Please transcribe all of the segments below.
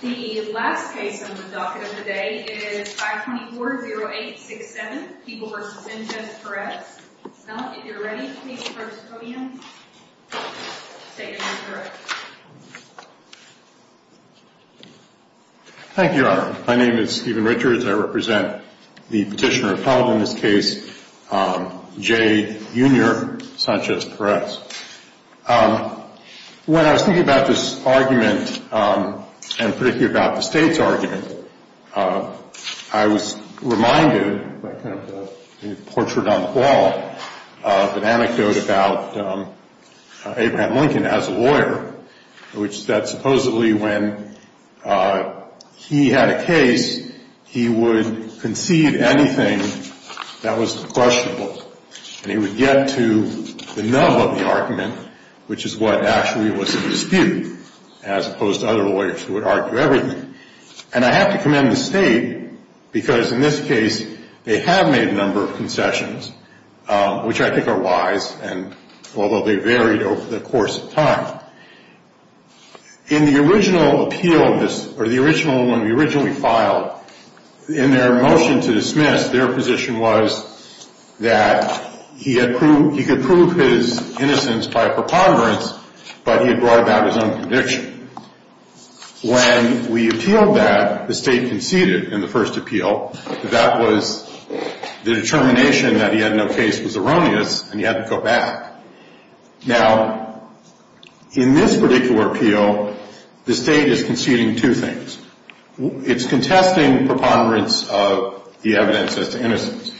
The last case on the docket of the day is 524-0867, People v. Sanchez-Perez. Mel, if you're ready, please, first podium. Thank you, Robin. My name is Stephen Richards. I represent the petitioner of trial in this case, J. Jr. Sanchez-Perez. When I was thinking about this argument, and particularly about the state's argument, I was reminded by kind of the portrait on the wall of an anecdote about Abraham Lincoln as a lawyer, which that supposedly when he had a case, he would concede anything that was questionable. And he would get to the nub of the argument, which is what actually was the dispute, as opposed to other lawyers who would argue everything. And I have to commend the state, because in this case they have made a number of concessions, which I think are wise, although they varied over the course of time. In the original appeal, or the original one we originally filed, in their motion to dismiss, their position was that he could prove his innocence by a preponderance, but he had brought about his own conviction. When we appealed that, the state conceded in the first appeal that that was the determination that he had no case was erroneous, and he had to go back. Now, in this particular appeal, the state is conceding two things. It's contesting preponderance of the evidence as to innocence,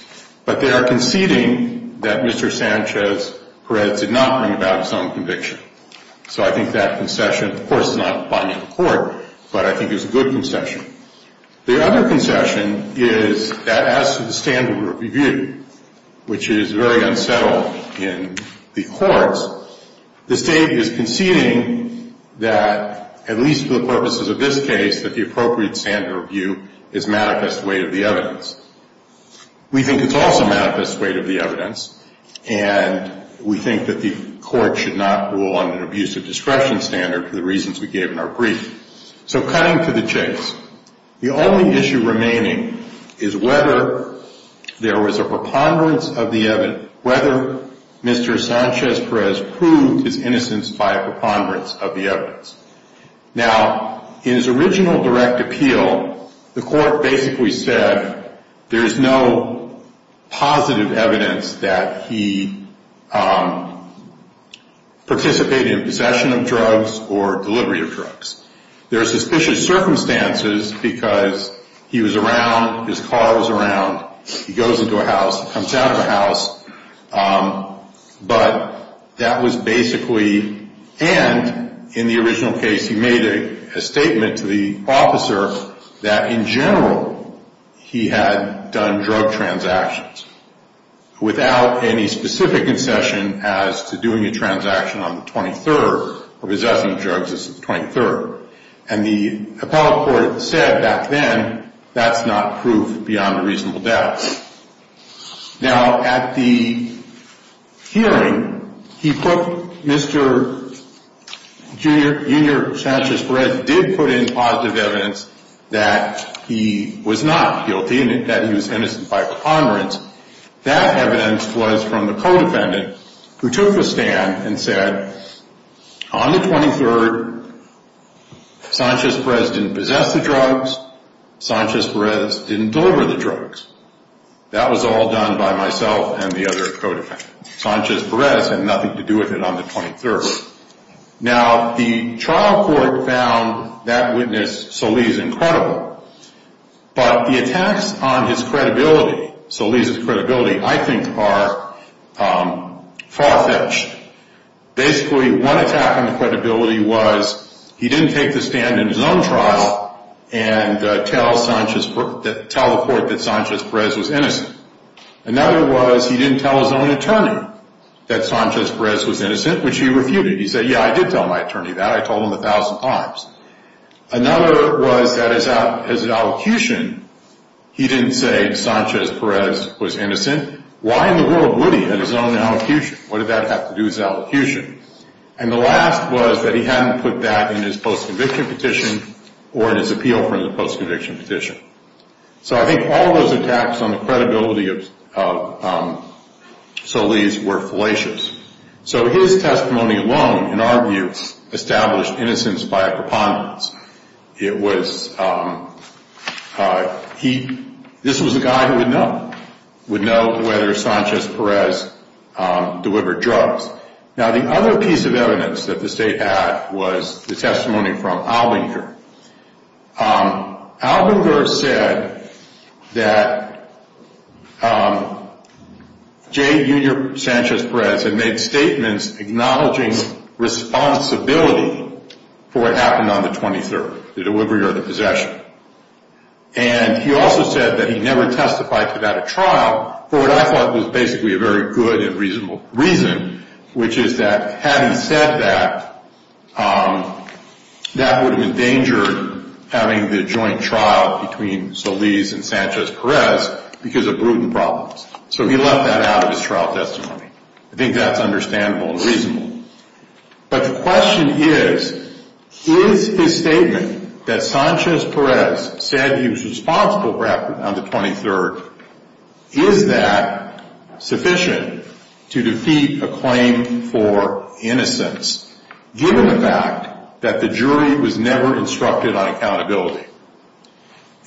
but they are conceding that Mr. Sanchez-Perez did not bring about his own conviction. So I think that concession, of course, is not binding the court, but I think it's a good concession. The other concession is that as to the standard of review, which is very unsettled in the courts, the state is conceding that, at least for the purposes of this case, that the appropriate standard of review is manifest weight of the evidence. We think it's also manifest weight of the evidence, and we think that the court should not rule on an abusive discretion standard for the reasons we gave in our brief. So cutting to the chase, the only issue remaining is whether there was a preponderance of the evidence, whether Mr. Sanchez-Perez proved his innocence by a preponderance of the evidence. Now, in his original direct appeal, the court basically said there's no positive evidence that he participated in possession of drugs or delivery of drugs. There are suspicious circumstances because he was around, his car was around, he goes into a house, comes out of a house. But that was basically, and in the original case he made a statement to the officer that, in general, he had done drug transactions without any specific concession as to doing a transaction on the 23rd or possessing drugs on the 23rd. And the appellate court said back then, that's not proof beyond a reasonable doubt. Now, at the hearing, he put Mr. Junior Sanchez-Perez did put in positive evidence that he was not guilty and that he was innocent by preponderance. That evidence was from the co-defendant who took the stand and said, on the 23rd, Sanchez-Perez didn't possess the drugs, Sanchez-Perez didn't deliver the drugs. That was all done by myself and the other co-defendant. Sanchez-Perez had nothing to do with it on the 23rd. Now, the trial court found that witness, Soliz, incredible. But the attacks on his credibility, Soliz's credibility, I think are far-fetched. Basically, one attack on the credibility was he didn't take the stand in his own trial and tell the court that Sanchez-Perez was innocent. Another was he didn't tell his own attorney that Sanchez-Perez was innocent, which he refuted. He said, yeah, I did tell my attorney that. I told him a thousand times. Another was that as an elocution, he didn't say Sanchez-Perez was innocent. Why in the world would he at his own elocution? What did that have to do with his elocution? And the last was that he hadn't put that in his post-conviction petition or in his appeal for the post-conviction petition. So I think all those attacks on the credibility of Soliz were fallacious. So his testimony alone, in our view, established innocence by a preponderance. This was a guy who would know, would know whether Sanchez-Perez delivered drugs. Now, the other piece of evidence that the state had was the testimony from Albinger. Albinger said that J. Junior Sanchez-Perez had made statements acknowledging responsibility for what happened on the 23rd, the delivery or the possession. And he also said that he never testified to that at trial for what I thought was basically a very good and reasonable reason, which is that having said that, that would have endangered having the joint trial between Soliz and Sanchez-Perez because of prudent problems. So he left that out of his trial testimony. I think that's understandable and reasonable. But the question is, is his statement that Sanchez-Perez said he was responsible for what happened on the 23rd, is that sufficient to defeat a claim for innocence given the fact that the jury was never instructed on accountability?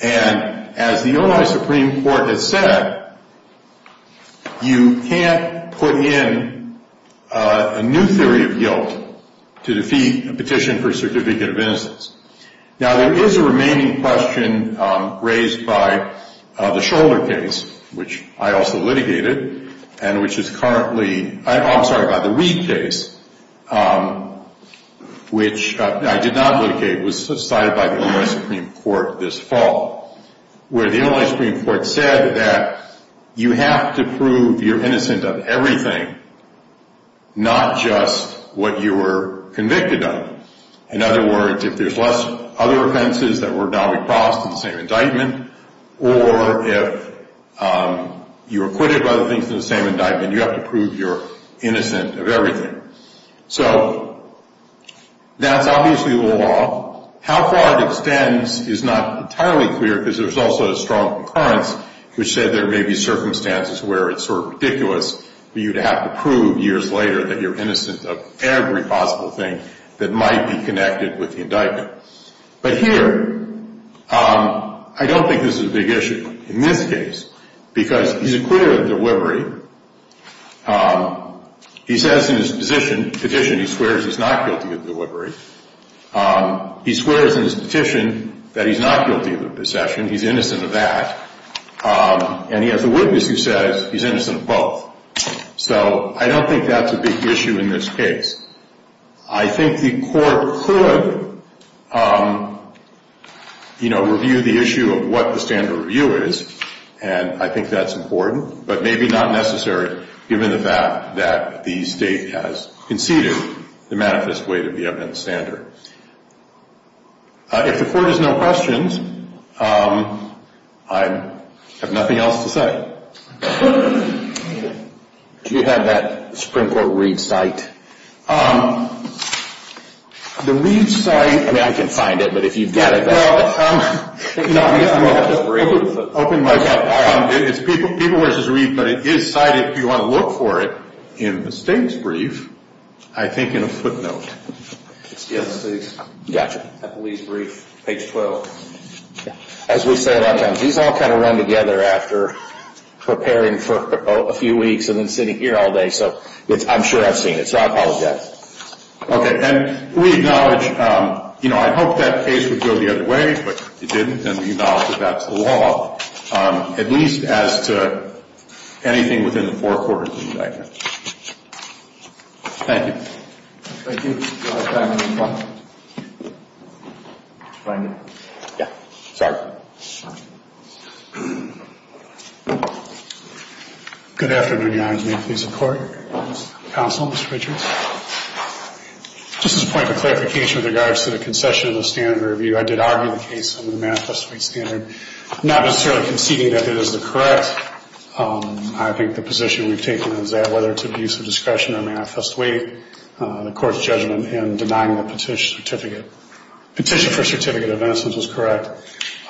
And as the Illinois Supreme Court has said, you can't put in a new theory of guilt to defeat a petition for certificate of innocence. Now, there is a remaining question raised by the Shoulder case, which I also litigated, and which is currently – I'm sorry, by the Reid case, which I did not litigate. It was cited by the Illinois Supreme Court this fall, where the Illinois Supreme Court said that you have to prove you're innocent of everything, not just what you were convicted of. In other words, if there's other offenses that were now crossed in the same indictment, or if you were acquitted of other things in the same indictment, you have to prove you're innocent of everything. So that's obviously the law. How far it extends is not entirely clear, because there's also a strong concurrence, which said there may be circumstances where it's sort of ridiculous for you to have to prove years later that you're innocent of every possible thing that might be connected with the indictment. But here, I don't think this is a big issue in this case, because he's acquitted of delivery. He says in his petition he swears he's not guilty of delivery. He swears in his petition that he's not guilty of possession. He's innocent of that. And he has a witness who says he's innocent of both. So I don't think that's a big issue in this case. I think the court could, you know, review the issue of what the standard review is, and I think that's important, but maybe not necessary, given the fact that the state has conceded the manifest weight of the evidence standard. If the court has no questions, I have nothing else to say. Do you have that Supreme Court read cite? The read cite... I mean, I can find it, but if you've got it... It's people versus read, but it is cited if you want to look for it in the state's brief, I think in a footnote. Excuse me, please. Gotcha. At the least brief, page 12. As we say a lot of times, these all kind of run together after preparing for a few weeks and then sitting here all day, so I'm sure I've seen it, so I apologize. Okay, and we acknowledge, you know, I hope that case would go the other way, but it didn't, and we acknowledge that that's the law, at least as to anything within the four quarters of indictment. Thank you. Thank you. Sorry. Good afternoon, Your Honor. May it please the Court. Counsel, Mr. Richards. Just as a point of clarification with regards to the concession of the standard review, I did argue the case under the manifest weight standard, not necessarily conceding that it is the correct. I think the position we've taken is that whether it's abuse of discretion or manifest weight, the court's judgment in denying the petition for certificate of innocence was correct.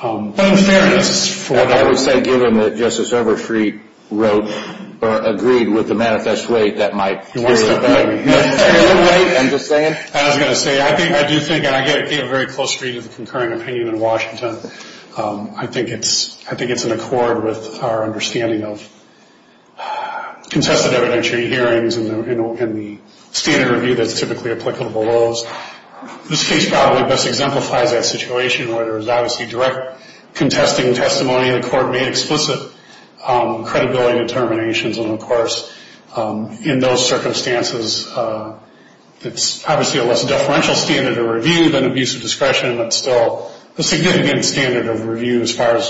I would say given that Justice Overstreet wrote or agreed with the manifest weight, that might clear it up. I was going to say, I do think, and I gave a very close read of the concurring opinion in Washington, I think it's in accord with our understanding of contested evidentiary hearings and the standard review that's typically applicable to those. This case probably best exemplifies that situation where there is obviously direct contesting testimony in the court, made explicit credibility determinations, and, of course, in those circumstances, it's obviously a less deferential standard of review than abuse of discretion, but still a significant standard of review as far as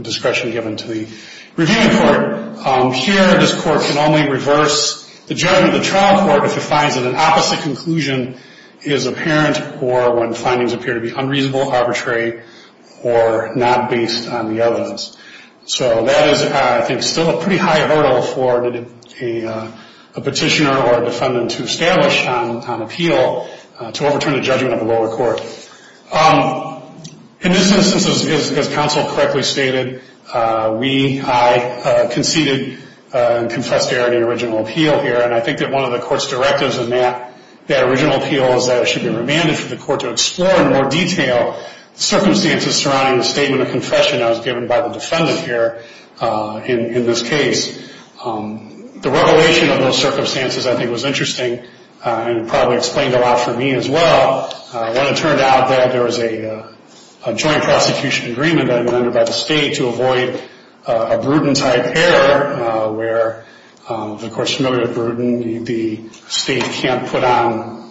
discretion given to the reviewing court. Here, this court can only reverse the judgment of the trial court if it finds that an opposite conclusion is apparent or when findings appear to be unreasonable, arbitrary, or not based on the evidence. So that is, I think, still a pretty high hurdle for a petitioner or a defendant to establish on appeal to overturn the judgment of the lower court. In this instance, as counsel correctly stated, we, I, conceded and confessed error in the original appeal here, and I think that one of the court's directives in that original appeal is that it should be remanded for the court to explore in more detail the circumstances surrounding the statement of confession that was given by the defendant here in this case. The revelation of those circumstances, I think, was interesting and probably explained a lot for me as well. When it turned out that there was a joint prosecution agreement that had been entered by the state to avoid a Bruton-type error where, of course, familiar with Bruton, the state can't put on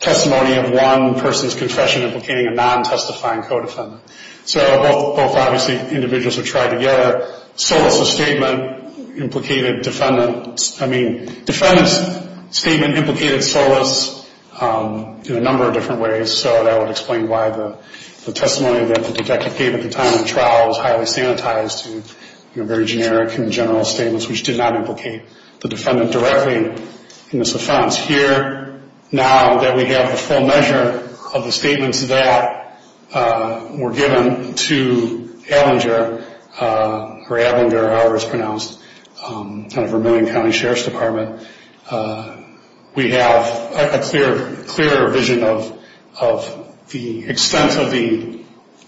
testimony of one person's confession implicating a non-testifying co-defendant. So both, obviously, individuals were tried together. Solis' statement implicated defendant's, I mean, defendant's statement implicated Solis' in a number of different ways, so that would explain why the testimony that the detective gave at the time of the trial was highly sanitized to, you know, very generic and general statements, which did not implicate the defendant directly in this offense. Here, now that we have a full measure of the statements that were given to Ablinger, or Ablinger, however it's pronounced, kind of Vermillion County Sheriff's Department, we have a clearer vision of the extent of the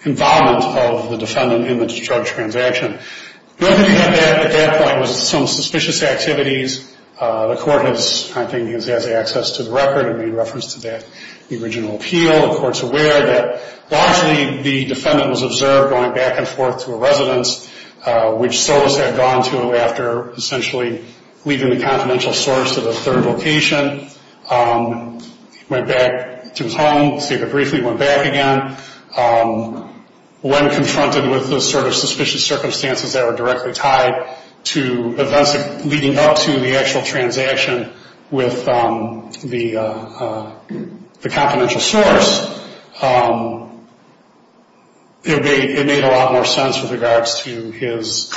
involvement of the defendant in the charge transaction. The other thing we had at that point was some suspicious activities. The court has, I think, has access to the record and made reference to that in the original appeal. The court's aware that largely the defendant was observed going back and forth to a residence, which Solis had gone to after essentially leaving the confidential source at a third location, went back to his home, stayed there briefly, went back again. When confronted with those sort of suspicious circumstances that were directly tied to events leading up to the actual transaction with the confidential source, it made a lot more sense with regards to his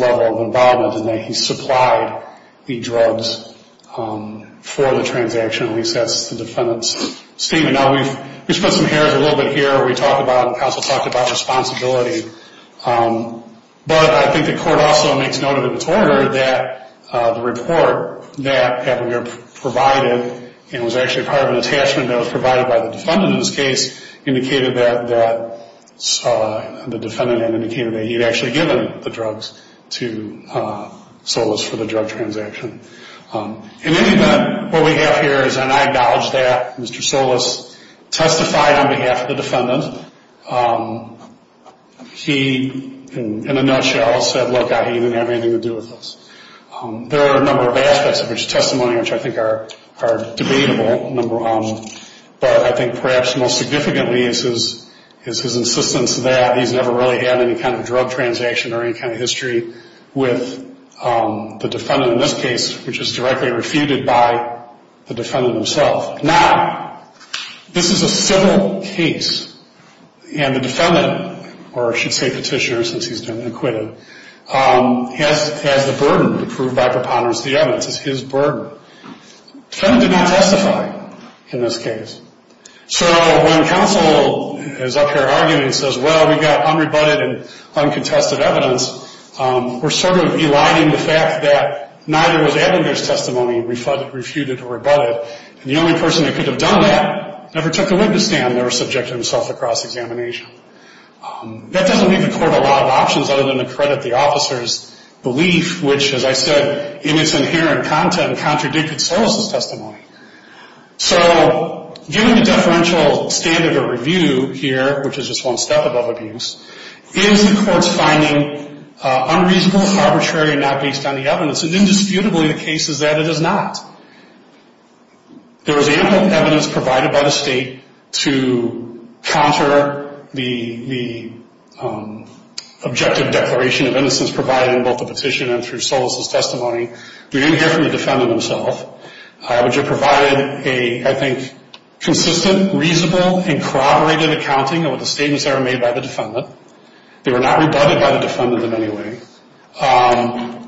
level of involvement in that he supplied the drugs for the transaction. At least that's the defendant's statement. Now, we've put some hairs a little bit here. We talked about, the counsel talked about responsibility. But I think the court also makes note of its order that the report that Kappenger provided and was actually part of an attachment that was provided by the defendant in this case, indicated that the defendant had indicated that he had actually given the drugs to Solis for the drug transaction. In any event, what we have here is, and I acknowledge that, Mr. Solis testified on behalf of the defendant. He, in a nutshell, said, look, he didn't have anything to do with this. There are a number of aspects of his testimony which I think are debatable. But I think perhaps most significantly is his insistence that he's never really had any kind of drug transaction or any kind of history with the defendant in this case, which is directly refuted by the defendant himself. Now, this is a civil case, and the defendant, or I should say petitioner since he's been acquitted, has the burden to prove by preponderance the evidence. It's his burden. The defendant did not testify in this case. So when counsel is up here arguing and says, well, we've got unrebutted and uncontested evidence, we're sort of eliding the fact that neither was Kappenger's testimony refuted or rebutted. And the only person that could have done that never took a witness stand, never subjected himself to cross-examination. That doesn't leave the court a lot of options other than to credit the officer's belief, which, as I said, in its inherent content contradicted Solis' testimony. So given the deferential standard of review here, which is just one step above abuse, is the court's finding unreasonable, arbitrary, and not based on the evidence? And indisputably the case is that it is not. There was ample evidence provided by the state to counter the objective declaration of innocence provided in both the petition and through Solis' testimony. We didn't hear from the defendant himself, which had provided a, I think, consistent, reasonable, and corroborated accounting of the statements that were made by the defendant. They were not rebutted by the defendant in any way.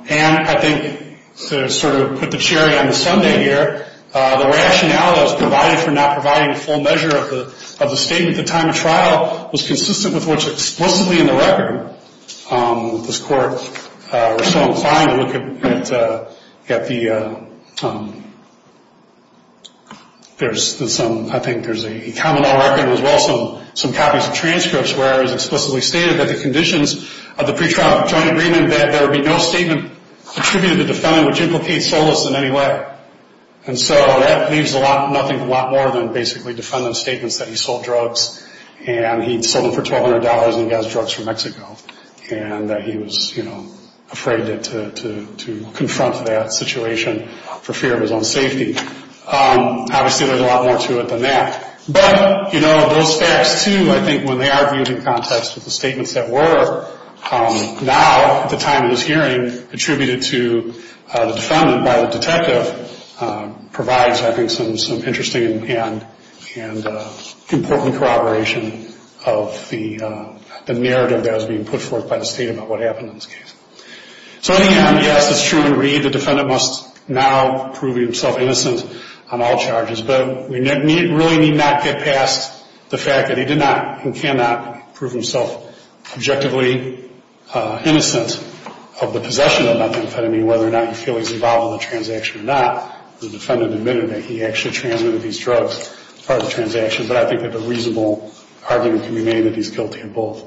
And I think to sort of put the cherry on the sundae here, the rationale that was provided for not providing a full measure of the statement at the time of trial was consistent with what's explicitly in the record. This court was so inclined to look at the, there's some, I think there's a common law record, as well as some copies of transcripts where it was explicitly stated that the conditions of the pretrial joint agreement that there would be no statement attributed to the defendant which implicates Solis in any way. And so that leaves a lot, nothing a lot more than basically defendant's statements that he sold drugs and he'd sold them for $1,200 and he got his drugs from Mexico and that he was, you know, afraid to confront that situation for fear of his own safety. Obviously there's a lot more to it than that. But, you know, those facts too I think when they are viewed in context with the statements that were now at the time of this hearing attributed to the defendant by the detective provides I think some interesting and important corroboration of the narrative that was being put forth by the state about what happened in this case. So in the end, yes, it's true in Reed the defendant must now prove himself innocent on all charges, but we really need not get past the fact that he did not and cannot prove himself objectively innocent of the possession of methamphetamine, whether or not you feel he's involved in the transaction or not. The defendant admitted that he actually transmitted these drugs as part of the transaction, but I think that the reasonable argument can be made that he's guilty of both.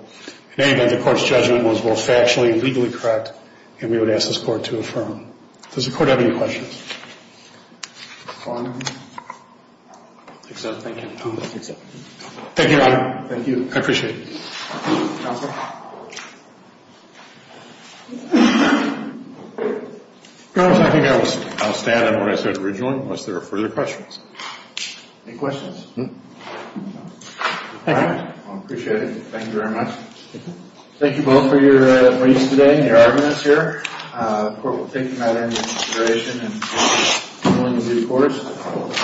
In any event, the court's judgment was both factually and legally correct and we would ask this court to affirm. Does the court have any questions? Thank you. Thank you. I appreciate it. Counselor? Counselor, I think I'll stand on what I said originally unless there are further questions. Any questions? No. Thank you. I appreciate it. Thank you very much. Thank you both for your briefs today and your arguments here. The court will take that into consideration. Good morning to you, court.